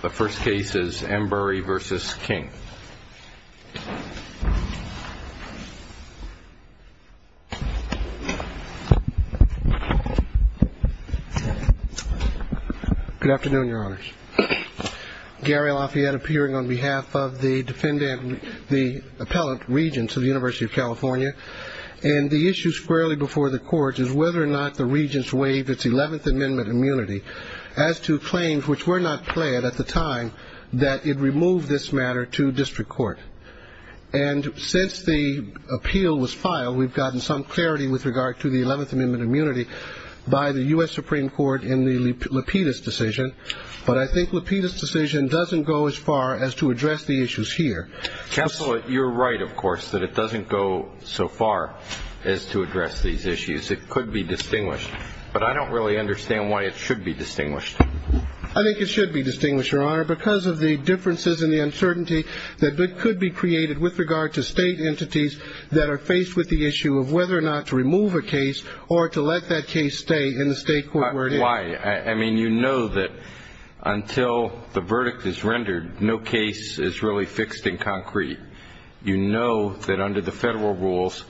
Good afternoon, your honors. Gary Lafayette appearing on behalf of the defendant, the appellate regents of the University of California, and the issue squarely before the court is whether or not the regents waived its 11th Amendment immunity as to claims which were not claimed at the time of the hearing. that it removed this matter to district court. And since the appeal was filed, we've gotten some clarity with regard to the 11th Amendment immunity by the U.S. Supreme Court in the Lapidus decision, but I think Lapidus decision doesn't go as far as to address the issues here. Counsel, you're right, of course, that it doesn't go so far as to address these issues. It could be distinguished, but I don't really understand why it should be distinguished. I think it should be distinguished, your honor, because of the differences and the uncertainty that could be created with regard to state entities that are faced with the issue of whether or not to remove a case or to let that case stay in the state court. Why? I mean, you know that until the verdict is rendered, no case is really fixed in concrete. You know that under the federal rules,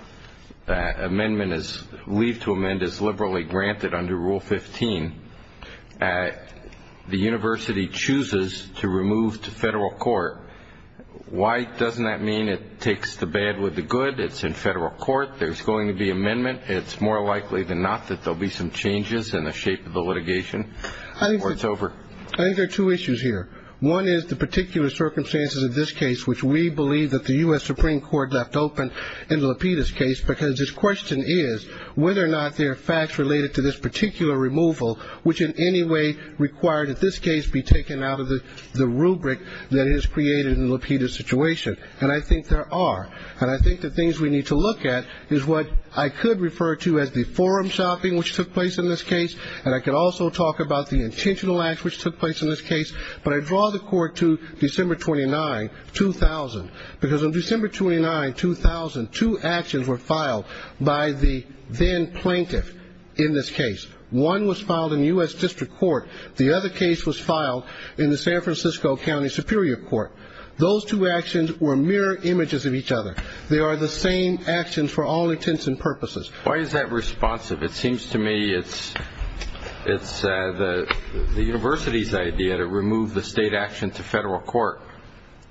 amendment is, leave to amend is liberally granted under Rule 15. The university chooses to remove to federal court. Why doesn't that mean it takes the bad with the good? It's in federal court. There's going to be amendment. It's more likely than not that there'll be some changes in the shape of the litigation or it's over. I think there are two issues here. One is the particular circumstances of this case, which we believe that the U.S. Supreme Court left open in Lapidus case, because this question is whether or not there are facts related to this particular removal, which in any way require that this case be taken out of the rubric that is created in Lapidus situation. And I think there are. And I think the things we need to look at is what I could refer to as the forum shopping which took place in this case. And I could also talk about the intentional acts which took place in this case. But I draw the court to December 29, 2000, because on December 29, 2000, two actions were filed by the then plaintiff in this case. One was filed in U.S. District Court. The other case was filed in the San Francisco County Superior Court. Those two actions were mirror images of each other. They are the same actions for all intents and purposes. Why is that responsive? It seems to me it's the university's idea to remove the state action to federal court.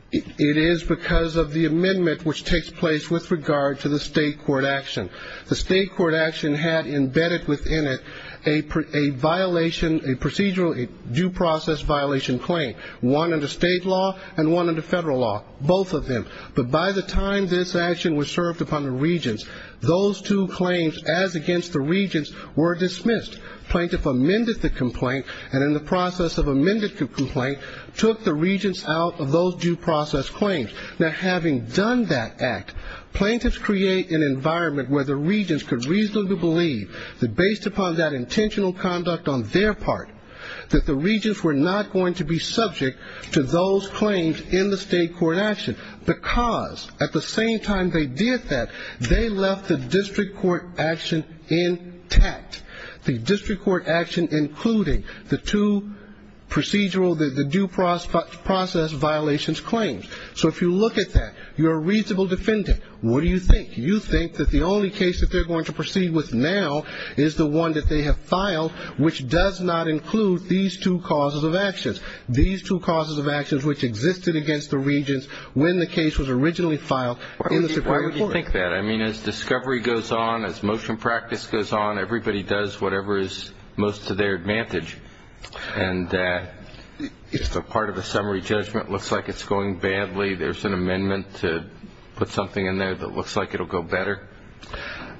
It is because of the amendment which takes place with regard to the state court action. The state court action had embedded within it a violation, a procedural due process violation claim, one under state law and one under federal law, both of them. But by the time this action was served upon the regents, those two claims as against the regents were dismissed. Plaintiff amended the complaint and in the process of amending the complaint, took the regents out of those due process claims. Now having done that act, plaintiffs create an environment where the regents could reasonably believe that based upon that intentional conduct on their part, that the regents were not going to be subject to those claims in the state court action, because at the same time they did that, they left the district court action intact. The district court action including the two procedural, the due process violations claims. So if you look at that, you're a reasonable defendant. What do you think? You think that the only case that they're going to proceed with now is the one that they have filed, which does not include these two causes of actions. These two causes of actions which existed against the regents when the case was originally filed in the Supreme Court. I don't think that. I mean, as discovery goes on, as motion practice goes on, everybody does whatever is most to their advantage. And if a part of the summary judgment looks like it's going badly, there's an amendment to put something in there that looks like it'll go better?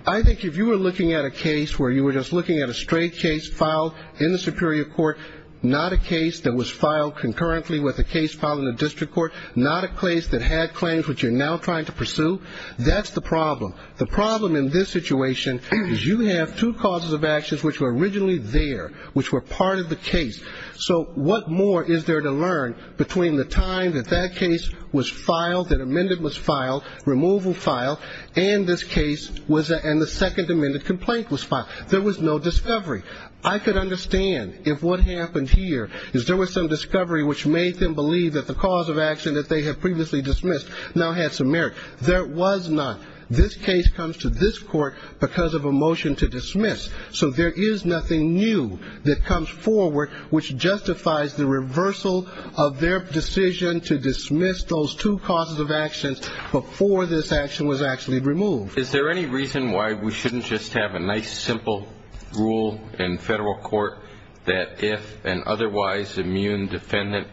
I think if you were looking at a case where you were just looking at a straight case filed in the Superior Court, not a case that was filed concurrently with a case filed in the district court, not a case that had claims which you're now trying to pursue, that's not the case. That's the problem. The problem in this situation is you have two causes of actions which were originally there, which were part of the case. So what more is there to learn between the time that that case was filed, that amendment was filed, removal filed, and this case was, and the second amendment complaint was filed? There was no discovery. I could understand if what happened here is there was some discovery which made them believe that the cause of action that they had previously dismissed now had some merit. There was not. This case comes to this court because of a motion to dismiss. So there is nothing new that comes forward which justifies the reversal of their decision to dismiss those two causes of actions before this action was actually removed. Is there any reason why we shouldn't just have a nice simple rule in federal court that if an otherwise immune defendant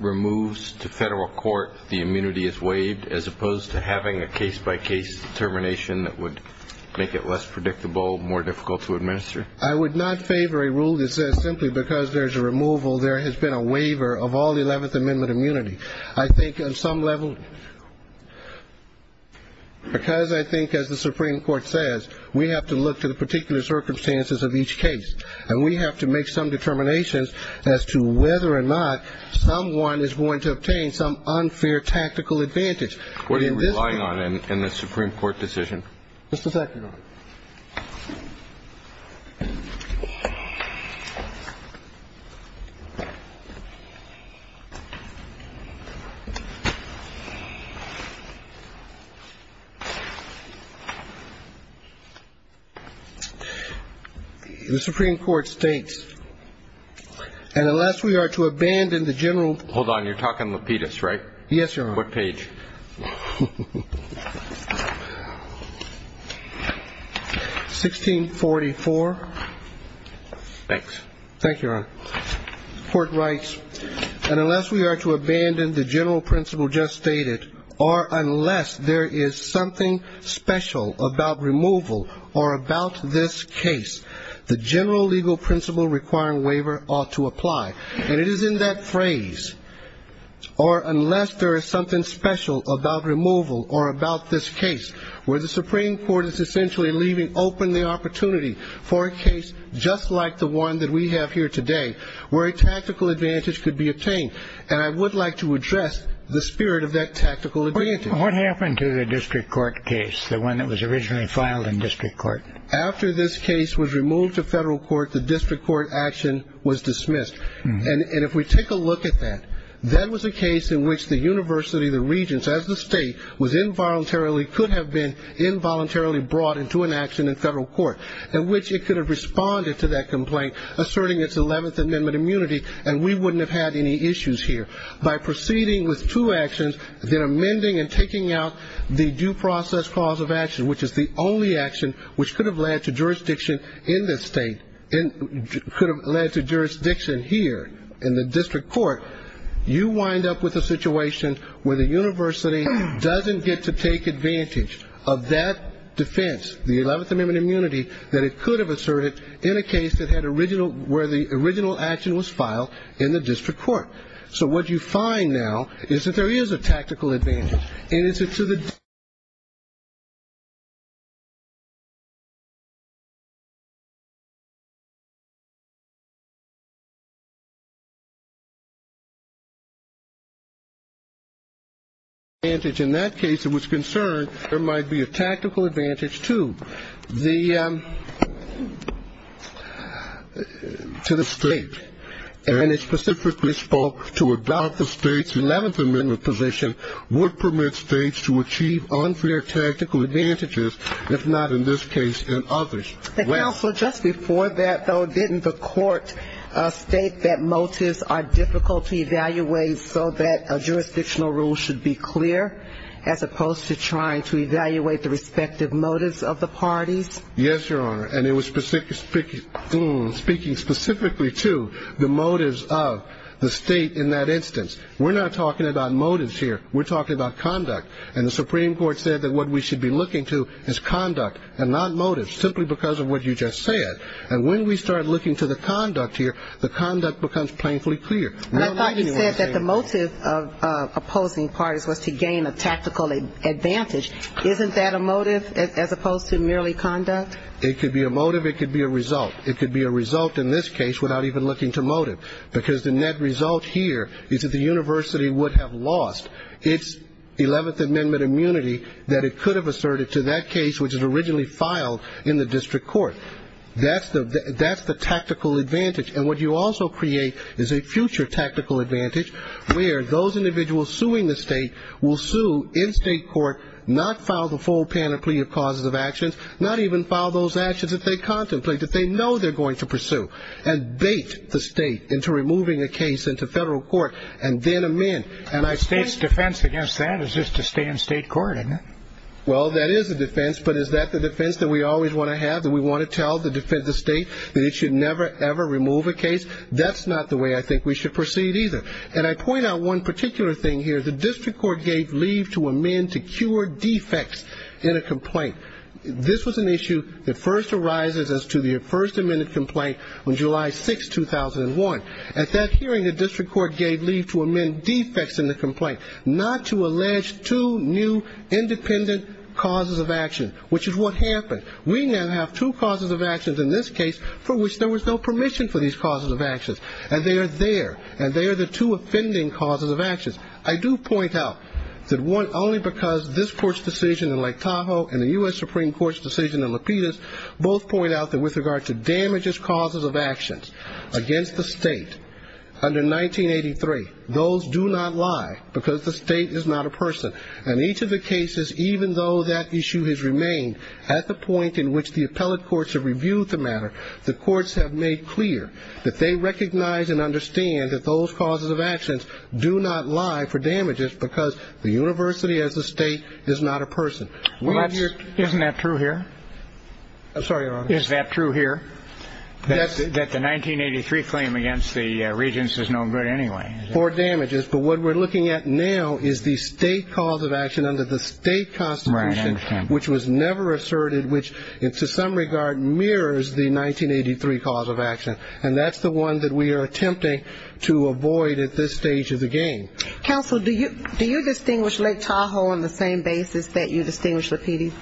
removes to federal court, the immunity is waived, as opposed to having a case-by-case determination that would make it less predictable, more difficult to administer? I would not favor a rule that says simply because there's a removal there has been a waiver of all 11th Amendment immunity. I think on some level, because I think as the Supreme Court says, we have to look to the particular circumstances of each case, and we have to make some determinations as to whether or not someone is going to obtain some unfair tactical advantage. What are you relying on in the Supreme Court decision? Just a second. The Supreme Court states, and unless we are to abandon the general. Hold on, you're talking Lapidus, right? Yes, Your Honor. What page? 1644. Thanks. Thank you, Your Honor. Court writes, and unless we are to abandon the general principle just stated, or unless there is something special about removal or about this case, the general legal principle requiring waiver ought to apply. And it is in that phrase, or unless there is something special about removal or about this case, where the Supreme Court is essentially leaving open the opportunity for a case just like the one that we have here today, where a tactical advantage could be obtained. And I would like to address the spirit of that tactical advantage. What happened to the district court case, the one that was originally filed in district court? After this case was removed to federal court, the district court action was dismissed. And if we take a look at that, that was a case in which the university, the regents, as the state, was involuntarily, could have been involuntarily brought into an action in federal court. In which it could have responded to that complaint, asserting its 11th Amendment immunity, and we wouldn't have had any issues here. By proceeding with two actions, then amending and taking out the due process clause of action, which is the only action which could have led to jurisdiction in this state, could have led to jurisdiction here in the district court, you wind up with a situation where the university doesn't get to take advantage of that defense, the 11th Amendment immunity, that it could have asserted in a case that had original, where the original action was filed in the district court. So what you find now is that there is a tactical advantage. And as to the advantage in that case, it was concerned there might be a tactical advantage to the state, and it specifically spoke to about the state's 11th Amendment position would permit states to achieve unfair tactical advantages, if not in this case and others. The counsel just before that, though, didn't the court state that motives are difficult to evaluate so that jurisdictional rules should be clear, as opposed to trying to evaluate the respective motives of the parties? Yes, Your Honor. And it was speaking specifically to the motives of the state in that instance. We're not talking about motives here. We're talking about conduct. And the Supreme Court said that what we should be looking to is conduct and not motives, simply because of what you just said. And when we start looking to the conduct here, the conduct becomes painfully clear. I thought you said that the motive of opposing parties was to gain a tactical advantage. Isn't that a motive as opposed to merely conduct? It could be a motive, it could be a result. It could be a result in this case without even looking to motive, because the net result here is that the university would have lost its 11th Amendment immunity that it could have asserted to that case, which was originally filed in the district court. That's the tactical advantage. And what you also create is a future tactical advantage where those individuals suing the state will sue in state court, not file the full panoply of causes of actions, not even file those actions that they contemplate, that they know they're going to pursue, and bait the state into removing a case into federal court and then amend. And the state's defense against that is just to stay in state court, isn't it? Well, that is a defense, but is that the defense that we always want to have, that we want to tell the defensive state that it should never, ever remove a case? That's not the way I think we should proceed either. And I point out one particular thing here. The district court gave leave to amend to cure defects in a complaint. This was an issue that first arises as to the first amended complaint on July 6, 2001. At that hearing, the district court gave leave to amend defects in the complaint, not to allege two new independent causes of action, which is what happened. We now have two causes of actions in this case for which there was no permission for these causes of actions, and they are there, and they are the two offending causes of actions. I do point out that one, only because this court's decision in Lake Tahoe and the U.S. Supreme Court's decision in Lapidus both point out that with regard to damages causes of actions against the state under 1983, those do not lie because the state is not a person. And each of the cases, even though that issue has remained at the point in which the appellate courts have reviewed the matter, the courts have made clear that they recognize and understand that those causes of actions do not lie for damages because the university as a state is not a person. Isn't that true here? I'm sorry, Your Honor. Is that true here, that the 1983 claim against the regents is no good anyway? For damages. But what we're looking at now is the state cause of action under the state constitution, which was never asserted, which to some regard mirrors the 1983 cause of action, and that's the one that we are attempting to avoid at this stage of the game. Counsel, do you distinguish Lake Tahoe on the same basis that you distinguish Lapidus?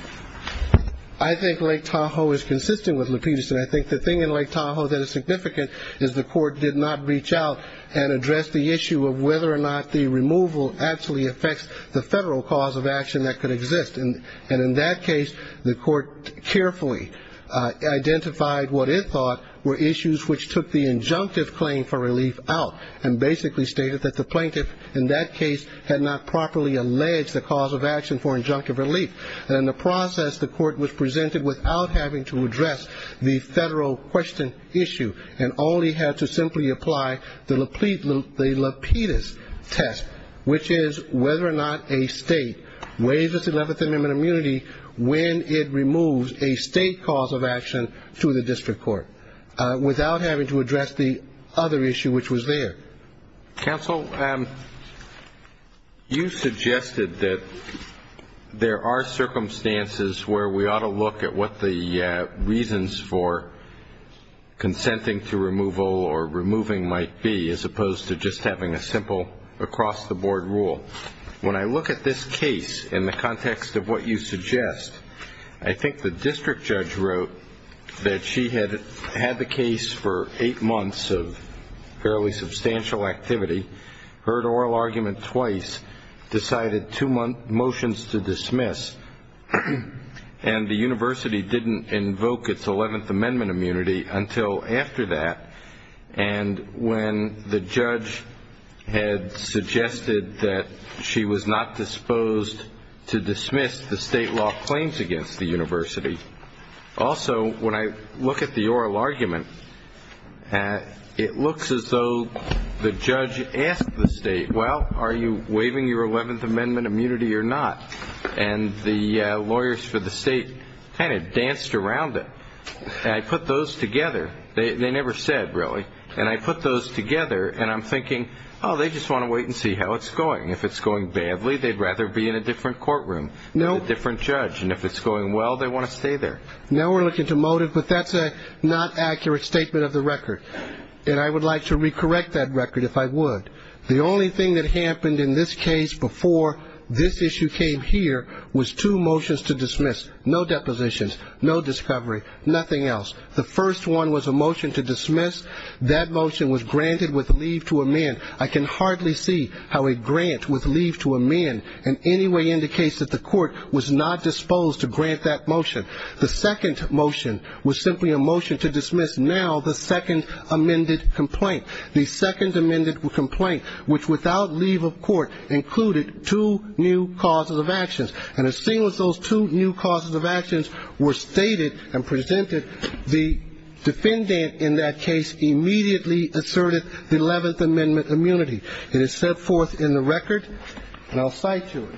I think Lake Tahoe is consistent with Lapidus, and I think the thing in Lake Tahoe that is significant is the court did not reach out and address the issue of whether or not the removal actually affects the federal cause of action that could exist. And in that case, the court carefully identified what it thought were issues which took the injunctive claim for relief out and basically stated that the plaintiff in that case had not properly alleged the cause of action for injunctive relief. And in the process, the court was presented without having to address the federal question issue and only had to simply apply the Lapidus test, which is whether or not a state waives its 11th Amendment immunity when it removes a state cause of action to the district court, without having to address the other issue which was there. Counsel, you suggested that there are circumstances where we ought to look at what the reasons for consenting to removal or removing might be as opposed to just having a simple across-the-board rule. When I look at this case in the context of what you suggest, I think the district judge wrote that she had had the case for eight months of fairly substantial activity, heard oral argument twice, decided two motions to dismiss, and the university didn't invoke its 11th Amendment immunity until after that. And when the judge had suggested that she was not disposed to dismiss the state law claims against the university, also when I look at the oral argument, it looks as though the judge asked the state, well, are you waiving your 11th Amendment immunity or not? And the lawyers for the state kind of danced around it. And I put those together. They never said, really. And I put those together, and I'm thinking, oh, they just want to wait and see how it's going. If it's going badly, they'd rather be in a different courtroom with a different judge. And if it's going well, they want to stay there. Now we're looking to motive, but that's a not accurate statement of the record. And I would like to recorrect that record if I would. The only thing that happened in this case before this issue came here was two motions to dismiss, no depositions, no discovery, nothing else. The first one was a motion to dismiss. That motion was granted with leave to amend. I can hardly see how a grant with leave to amend in any way indicates that the court was not disposed to grant that motion. The second motion was simply a motion to dismiss. Now the second amended complaint, the second amended complaint, which without leave of court included two new causes of actions. And as soon as those two new causes of actions were stated and presented, the defendant in that case immediately asserted the Eleventh Amendment immunity. It is set forth in the record, and I'll cite to it.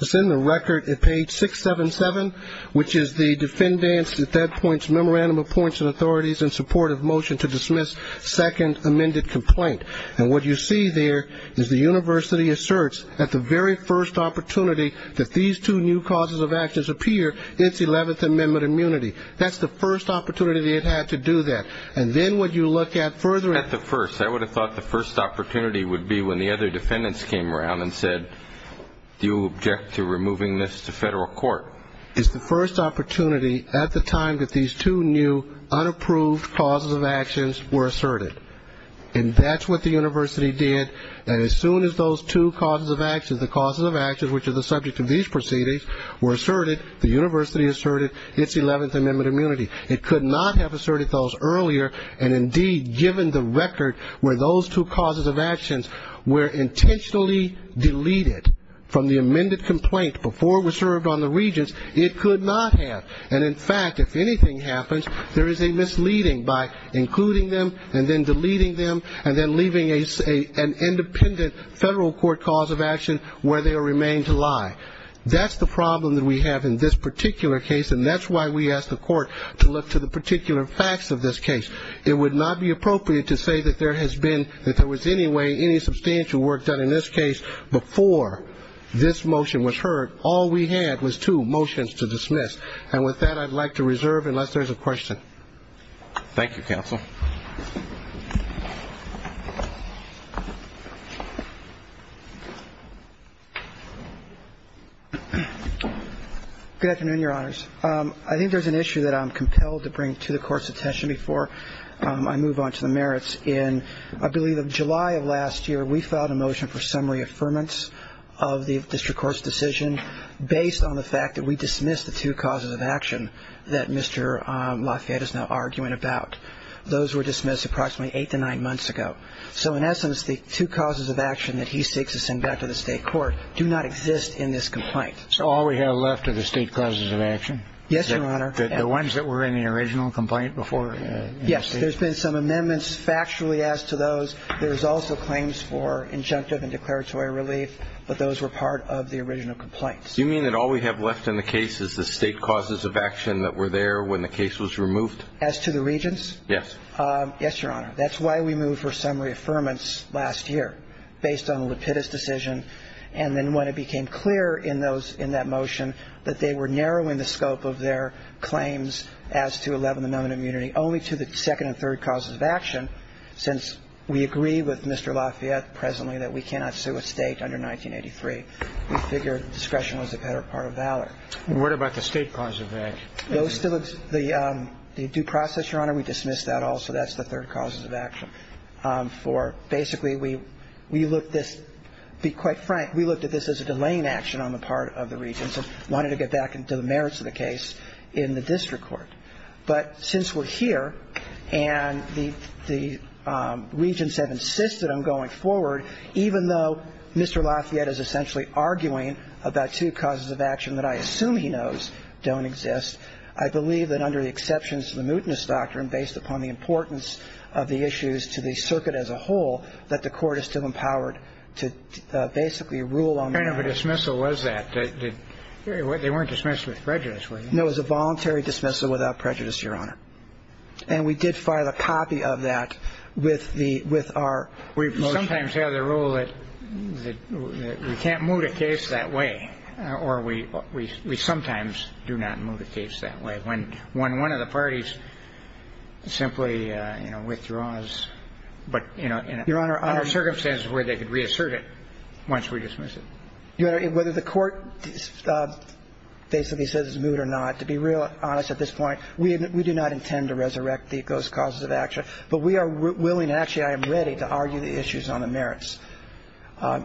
It's in the record at page 677, which is the defendant's at that point's memorandum of points and authorities in support of motion to dismiss second amended complaint. And what you see there is the university asserts at the very first opportunity that these two new causes of actions appear, it's Eleventh Amendment immunity. It had to do that. And then when you look at further at the first, I would have thought the first opportunity would be when the other defendants came around and said, do you object to removing this to federal court? It's the first opportunity at the time that these two new unapproved causes of actions were asserted. And that's what the university did. And as soon as those two causes of actions, the causes of actions, which is the subject of these proceedings, were asserted, the university asserted its Eleventh Amendment immunity. It could not have asserted those earlier. And indeed, given the record where those two causes of actions were intentionally deleted from the amended complaint before it was served on the regents, it could not have. And in fact, if anything happens, there is a misleading by including them and then deleting them and then leaving an independent federal court cause of action where they remain to lie. That's the problem that we have in this particular case, and that's why we ask the court to look to the particular facts of this case. It would not be appropriate to say that there has been, if there was any way, any substantial work done in this case before this motion was heard. All we had was two motions to dismiss. And with that, I'd like to reserve unless there's a question. Thank you, counsel. Good afternoon, Your Honors. I think there's an issue that I'm compelled to bring to the Court's attention before I move on to the merits. In, I believe, July of last year, we filed a motion for summary affirmance of the district court's decision based on the fact that we dismissed the two causes of action that Mr. Lafayette is now arguing about. And those were dismissed approximately eight to nine months ago. So in essence, the two causes of action that he seeks to send back to the state court do not exist in this complaint. So all we have left are the state causes of action? Yes, Your Honor. The ones that were in the original complaint before? Yes, there's been some amendments factually as to those. There's also claims for injunctive and declaratory relief, but those were part of the original complaints. You mean that all we have left in the case is the state causes of action that were there when the case was removed? As to the regents? Yes. Yes, Your Honor. That's why we moved for summary affirmance last year, based on the Lapidus decision. And then when it became clear in that motion that they were narrowing the scope of their claims as to 11th Amendment immunity only to the second and third causes of action, since we agree with Mr. Lafayette presently that we cannot sue a state under 1983, we figured discretion was a better part of valor. What about the state causes of action? Those still exist. The due process, Your Honor, we dismissed that also. That's the third causes of action. For basically we looked at this, to be quite frank, we looked at this as a delaying action on the part of the regents and wanted to get back into the merits of the case in the district court. But since we're here and the regents have insisted on going forward, even though Mr. Lafayette has insisted on going forward, I believe that under the exceptions of the mutinous doctrine, based upon the importance of the issues to the circuit as a whole, that the Court is still empowered to basically rule on the matter. What kind of a dismissal was that? They weren't dismissed with prejudice, were they? No, it was a voluntary dismissal without prejudice, Your Honor. And we did file a copy of that with the – with our motion. We sometimes have the rule that we can't move the case that way, or we sometimes do not move the case that way. When one of the parties simply, you know, withdraws, but in a circumstance where they could reassert it once we dismiss it. Your Honor, whether the Court basically says it's moved or not, to be real honest at this point, we do not intend to resurrect those causes of action. But we are willing – actually, I am ready to argue the issues on the merits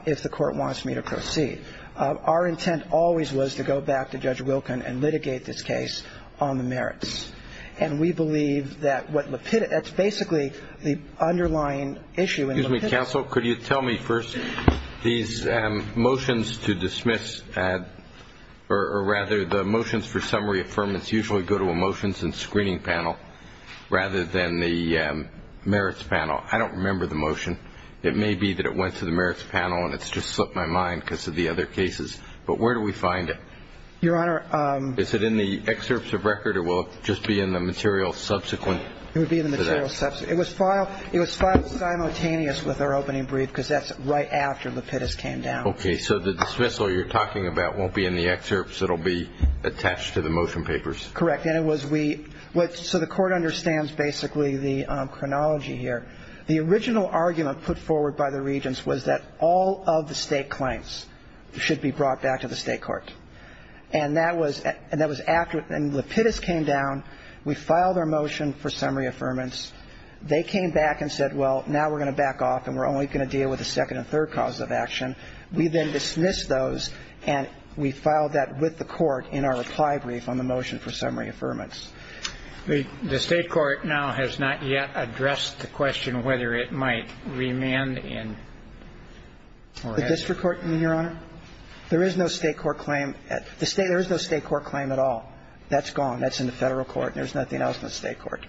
if the Court wants me to proceed. Our intent always was to go back to Judge Wilkin and litigate this case on the merits. And we believe that what Lapidus – that's basically the underlying issue in Lapidus. Excuse me, counsel. Could you tell me first, these motions to dismiss or rather the motions for summary affirmance usually go to a motions and screening panel rather than the merits panel. I don't remember the motion. It may be that it went to the merits panel and it's just slipped my mind because of the other cases. But where do we find it? Your Honor – Is it in the excerpts of record or will it just be in the material subsequent to that? It would be in the material subsequent. It was filed – it was filed simultaneous with our opening brief because that's right after Lapidus came down. Okay. So the dismissal you're talking about won't be in the excerpts. It will be attached to the motion papers. Correct. And it was we – so the Court understands basically the chronology here. The original argument put forward by the Regents was that all of the state claims should be brought back to the state court. And that was – and that was after – and Lapidus came down. We filed our motion for summary affirmance. They came back and said, well, now we're going to back off and we're only going to deal with the second and third causes of action. We then dismissed those and we filed that with the Court in our reply brief on the motion for summary affirmance. The state court now has not yet addressed the question whether it might remand in or – The district court, Your Honor? There is no state court claim. The state – there is no state court claim at all. That's gone. That's in the Federal court. There's nothing else in the state court.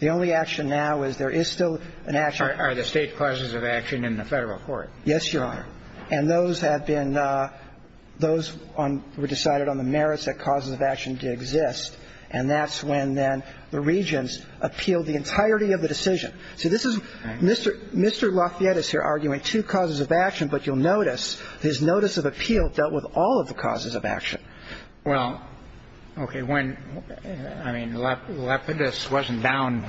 The only action now is there is still an action – Are the state causes of action in the Federal court? Yes, Your Honor. And those have been – those were decided on the merits that causes of action did exist. And that's when then the Regents appealed the entirety of the decision. So this is – Mr. Lafayette is here arguing two causes of action, but you'll notice his notice of appeal dealt with all of the causes of action. Well, okay. When – I mean, Lapidus wasn't down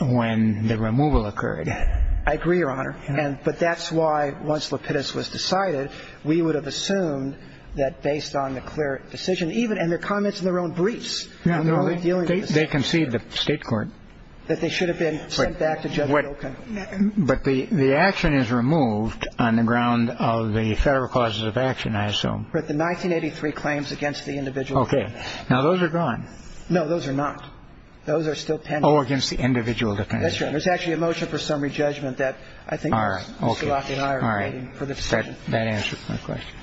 when the removal occurred. I agree, Your Honor. But that's why once Lapidus was decided, we would have assumed that based on the clear decision even – and their comments in their own briefs. They concede the state court. That they should have been sent back to Judge Wilkin. But the action is removed on the ground of the Federal causes of action, I assume. But the 1983 claims against the individual defendants. Okay. Now, those are gone. No, those are not. Those are still pending. Oh, against the individual defendants. That's right. And there's actually a motion for summary judgment that I think Mr. Lafayette and I are waiting for the decision. All right. Okay. All right. That answers my question.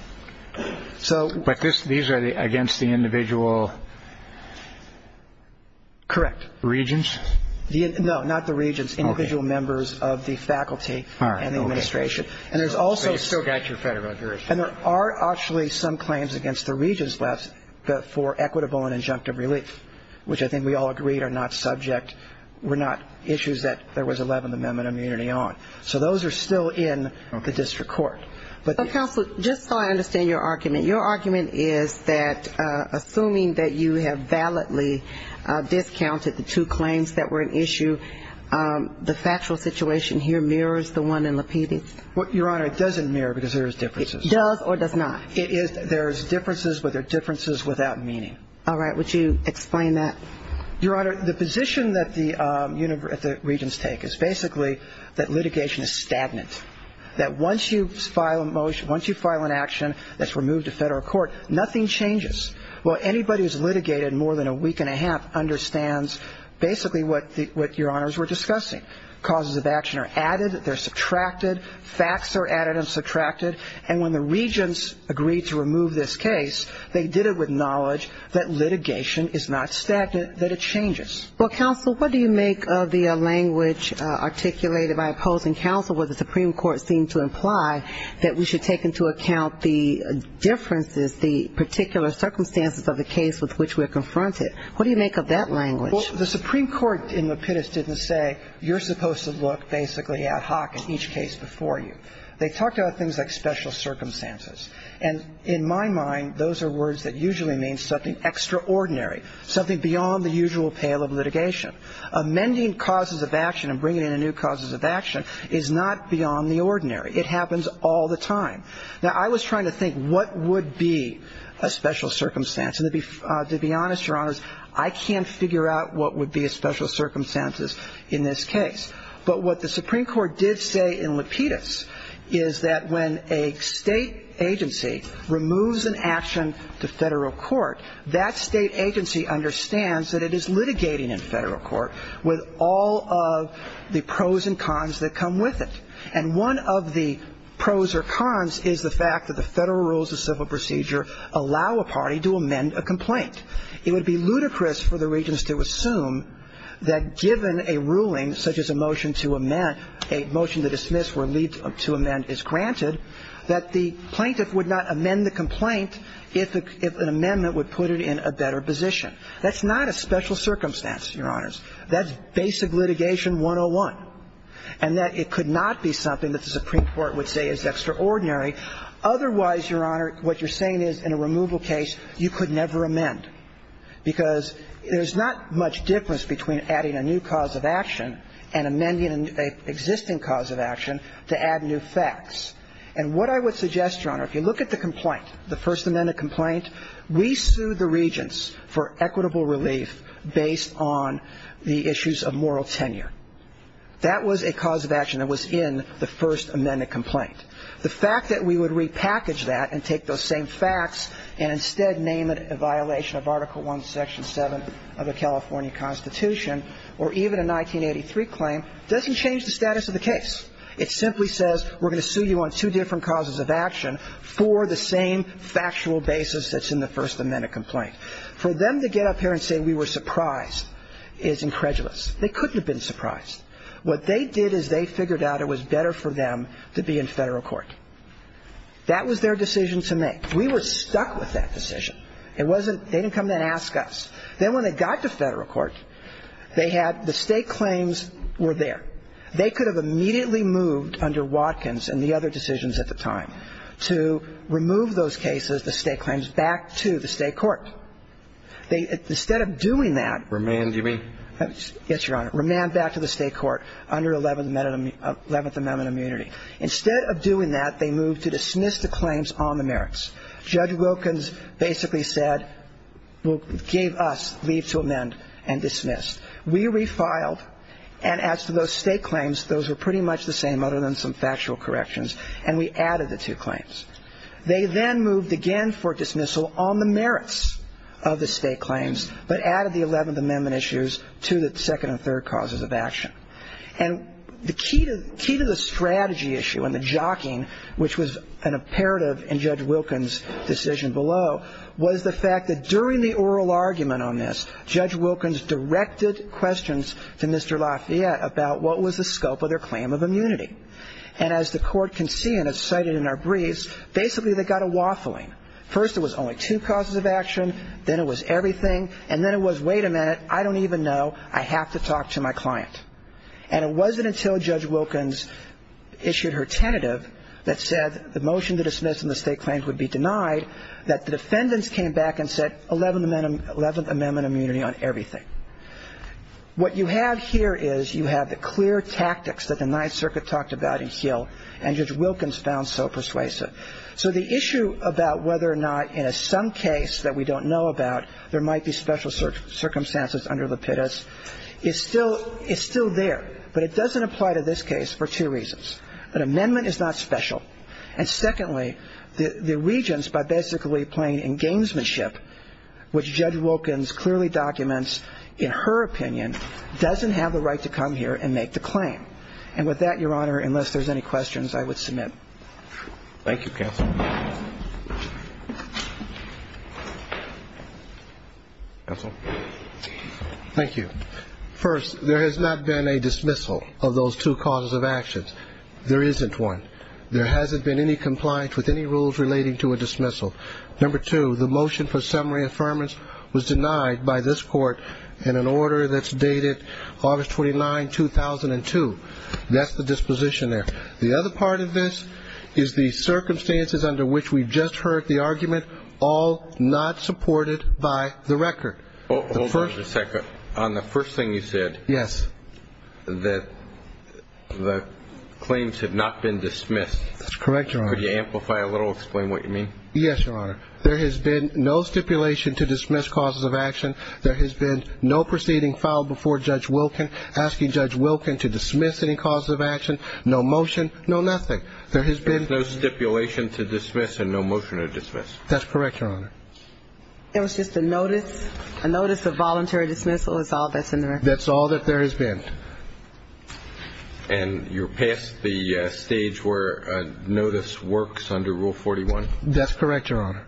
So – But these are against the individual – Correct. Regents? No, not the Regents. Okay. Individual members of the faculty and the administration. All right. Okay. And there's also – But you've still got your Federal jurisdiction. And there are actually some claims against the Regents left for equitable and injunctive relief, which I think we all agreed are not subject – were not issues that – that there was 11th Amendment immunity on. So those are still in the district court. But – But, counsel, just so I understand your argument, your argument is that assuming that you have validly discounted the two claims that were an issue, the factual situation here mirrors the one in Lapidus? Your Honor, it doesn't mirror because there's differences. It does or does not? It is – there's differences, but they're differences without meaning. All right. Would you explain that? Your Honor, the position that the Regents take is basically that litigation is stagnant, that once you file a motion – once you file an action that's removed to Federal court, nothing changes. Well, anybody who's litigated more than a week and a half understands basically what Your Honors were discussing. Causes of action are added, they're subtracted. Facts are added and subtracted. And when the Regents agreed to remove this case, they did it with knowledge that it changes. Well, counsel, what do you make of the language articulated by opposing counsel where the Supreme Court seemed to imply that we should take into account the differences, the particular circumstances of the case with which we're confronted? What do you make of that language? Well, the Supreme Court in Lapidus didn't say you're supposed to look basically ad hoc in each case before you. They talked about things like special circumstances. And in my mind, those are words that usually mean something extraordinary, something beyond the usual pale of litigation. Amending causes of action and bringing in new causes of action is not beyond the ordinary. It happens all the time. Now, I was trying to think what would be a special circumstance. And to be honest, Your Honors, I can't figure out what would be a special circumstances in this case. But what the Supreme Court did say in Lapidus is that when a state agency removes an action to federal court, that state agency understands that it is litigating in federal court with all of the pros and cons that come with it. And one of the pros or cons is the fact that the federal rules of civil procedure allow a party to amend a complaint. It would be ludicrous for the Regents to assume that given a ruling such as a motion to amend, a motion to dismiss or lead to amend is granted, that the plaintiff would not amend the complaint if an amendment would put it in a better position. That's not a special circumstance, Your Honors. That's basic litigation 101, and that it could not be something that the Supreme Court would say is extraordinary. Otherwise, Your Honor, what you're saying is in a removal case, you could never amend, because there's not much difference between adding a new cause of action and amending an existing cause of action to add new facts. And what I would suggest, Your Honor, if you look at the complaint, the First Amendment complaint, we sued the Regents for equitable relief based on the issues of moral tenure. That was a cause of action that was in the First Amendment complaint. The fact that we would repackage that and take those same facts and instead name it a violation of Article I, Section 7 of the California Constitution or even a 1983 claim doesn't change the status of the case. It simply says we're going to sue you on two different causes of action for the same factual basis that's in the First Amendment complaint. For them to get up here and say we were surprised is incredulous. They couldn't have been surprised. What they did is they figured out it was better for them to be in federal court. That was their decision to make. We were stuck with that decision. It wasn't they didn't come in and ask us. Then when they got to federal court, they had the state claims were there. They could have immediately moved under Watkins and the other decisions at the time to remove those cases, the state claims, back to the state court. Instead of doing that. Remand, you mean? Yes, Your Honor. Remand back to the state court under Eleventh Amendment immunity. Instead of doing that, they moved to dismiss the claims on the merits. Judge Wilkins basically said, gave us leave to amend and dismiss. We refiled. And as to those state claims, those were pretty much the same other than some factual corrections. And we added the two claims. They then moved again for dismissal on the merits of the state claims, but added the Eleventh Amendment issues to the second and third causes of action. And the key to the strategy issue and the jockeying, which was an imperative in Judge Wilkins' decision below, was the fact that during the oral argument on this, Judge Wilkins directed questions to Mr. Lafayette about what was the scope of their claim of immunity. And as the court can see and as cited in our briefs, basically they got a waffling. First, it was only two causes of action. Then it was everything. And then it was, wait a minute, I don't even know. I have to talk to my client. And it wasn't until Judge Wilkins issued her tentative that said the motion to dismiss the state claims would be denied that the defendants came back and said Eleventh Amendment immunity on everything. What you have here is you have the clear tactics that the Ninth Circuit talked about in Hill, and Judge Wilkins found so persuasive. So the issue about whether or not in some case that we don't know about there might be special circumstances under the pitas is still there, but it doesn't apply to this case for two reasons. First, an amendment is not special. And secondly, the regents, by basically playing engagement ship, which Judge Wilkins clearly documents in her opinion, doesn't have the right to come here and make the claim. And with that, Your Honor, unless there's any questions, I would submit. Thank you, Counsel. Counsel? Thank you. First, there has not been a dismissal of those two causes of actions. There isn't one. There hasn't been any compliance with any rules relating to a dismissal. Number two, the motion for summary affirmance was denied by this court in an order that's dated August 29, 2002. That's the disposition there. The other part of this is the circumstances under which we just heard the argument, all not supported by the record. Hold on just a second. On the first thing you said. Yes. That the claims have not been dismissed. That's correct, Your Honor. Could you amplify a little, explain what you mean? Yes, Your Honor. There has been no stipulation to dismiss causes of action. There has been no proceeding filed before Judge Wilkins asking Judge Wilkins to dismiss any causes of action, no motion, no nothing. There has been no stipulation to dismiss and no motion to dismiss. That's correct, Your Honor. It was just a notice, a notice of voluntary dismissal is all that's in the record. That's all that there has been. And you're past the stage where a notice works under Rule 41. That's correct, Your Honor.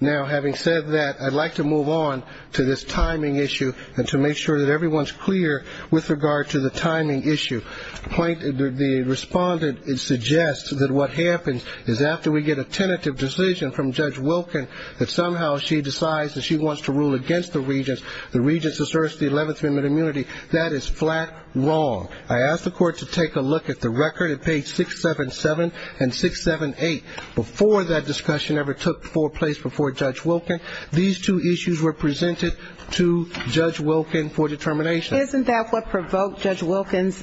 Now, having said that, I'd like to move on to this timing issue and to make sure that everyone's clear with regard to the timing issue. The respondent suggests that what happens is after we get a tentative decision from Judge Wilkins that somehow she decides that she wants to rule against the regents, the regents asserts the 11th Amendment immunity. That is flat wrong. I asked the Court to take a look at the record at page 677 and 678. Before that discussion ever took place before Judge Wilkins, these two issues were presented to Judge Wilkins for determination. Isn't that what provoked Judge Wilkins'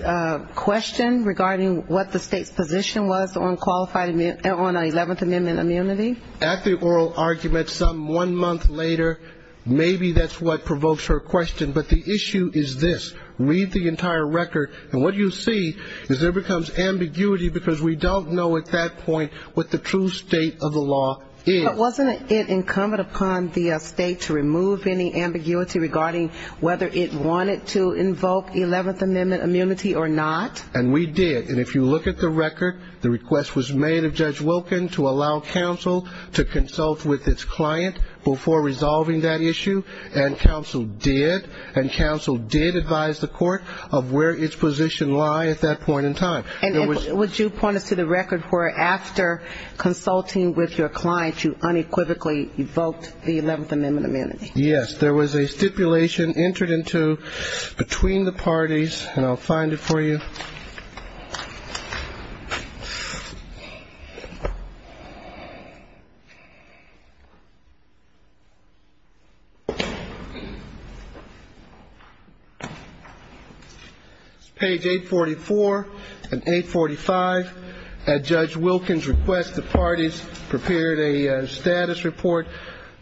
question regarding what the State's position was on qualified 11th Amendment immunity? At the oral argument some one month later, maybe that's what provokes her question. But the issue is this. Read the entire record, and what you see is there becomes ambiguity because we don't know at that point what the true state of the law is. But wasn't it incumbent upon the State to remove any ambiguity regarding whether it wanted to invoke 11th Amendment immunity or not? And we did. And if you look at the record, the request was made of Judge Wilkins to allow counsel to consult with its client before resolving that issue, and counsel did, and counsel did advise the Court of where its position lies at that point in time. And would you point us to the record where after consulting with your client, you unequivocally invoked the 11th Amendment immunity? Yes. There was a stipulation entered into between the parties, and I'll find it for you. Page 844 and 845. At Judge Wilkins' request, the parties prepared a status report,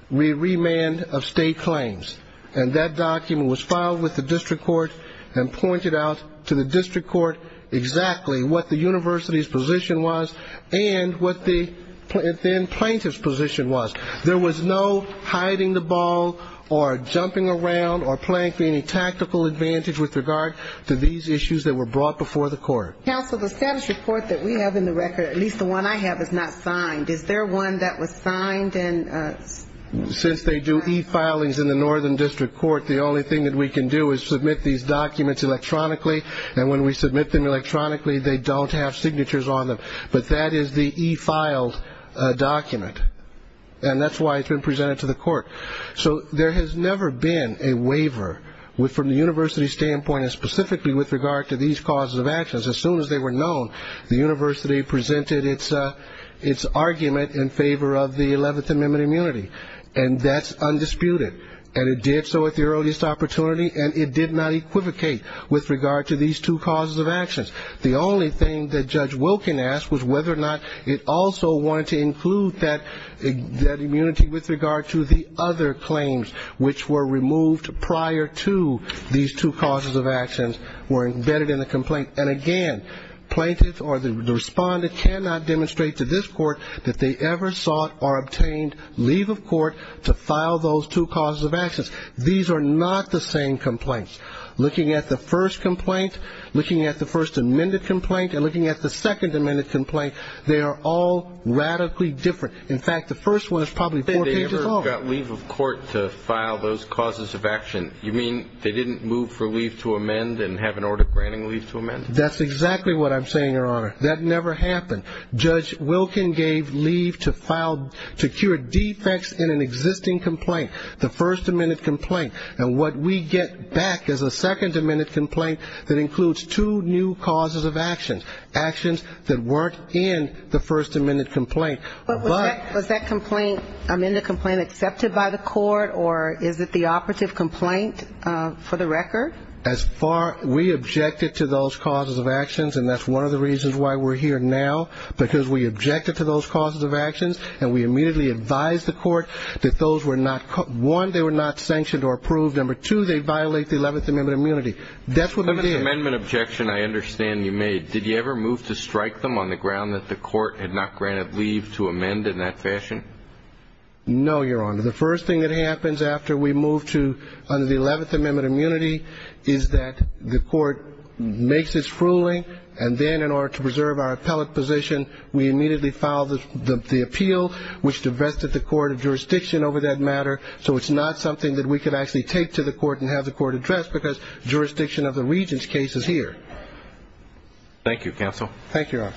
remand of state claims. And that document was filed with the district court and pointed out to the district court exactly what the university's position was and what the plaintiff's position was. There was no hiding the ball or jumping around or playing for any tactical advantage Counsel, the status report that we have in the record, at least the one I have, is not signed. Is there one that was signed? Since they do e-filings in the northern district court, the only thing that we can do is submit these documents electronically, and when we submit them electronically, they don't have signatures on them. But that is the e-filed document, and that's why it's been presented to the court. So there has never been a waiver from the university's standpoint, and specifically with regard to these causes of actions. As soon as they were known, the university presented its argument in favor of the 11th Amendment immunity, and that's undisputed, and it did so at the earliest opportunity, and it did not equivocate with regard to these two causes of actions. The only thing that Judge Wilkins asked was whether or not it also wanted to include that immunity with regard to the other claims, which were removed prior to these two causes of actions were embedded in the complaint. And again, plaintiffs or the respondent cannot demonstrate to this court that they ever sought or obtained leave of court to file those two causes of actions. These are not the same complaints. Looking at the first complaint, looking at the first amended complaint, and looking at the second amended complaint, they are all radically different. In fact, the first one is probably four pages longer. They never got leave of court to file those causes of action. You mean they didn't move for leave to amend and have an order granting leave to amend? That's exactly what I'm saying, Your Honor. That never happened. Judge Wilkins gave leave to file secure defects in an existing complaint, the first amended complaint, and what we get back is a second amended complaint that includes two new causes of actions, that weren't in the first amended complaint. Was that amended complaint accepted by the court, or is it the operative complaint for the record? As far as we objected to those causes of actions, and that's one of the reasons why we're here now, because we objected to those causes of actions, and we immediately advised the court that those were not, one, they were not sanctioned or approved. Number two, they violate the 11th Amendment immunity. That's what we did. On the amendment objection I understand you made, did you ever move to strike them on the ground that the court had not granted leave to amend in that fashion? No, Your Honor. The first thing that happens after we move to the 11th Amendment immunity is that the court makes its ruling, and then in order to preserve our appellate position, we immediately file the appeal, which divested the court of jurisdiction over that matter, so it's not something that we could actually take to the court and have the court address, because jurisdiction of the regent's case is here. Thank you, counsel. Thank you, Your Honor.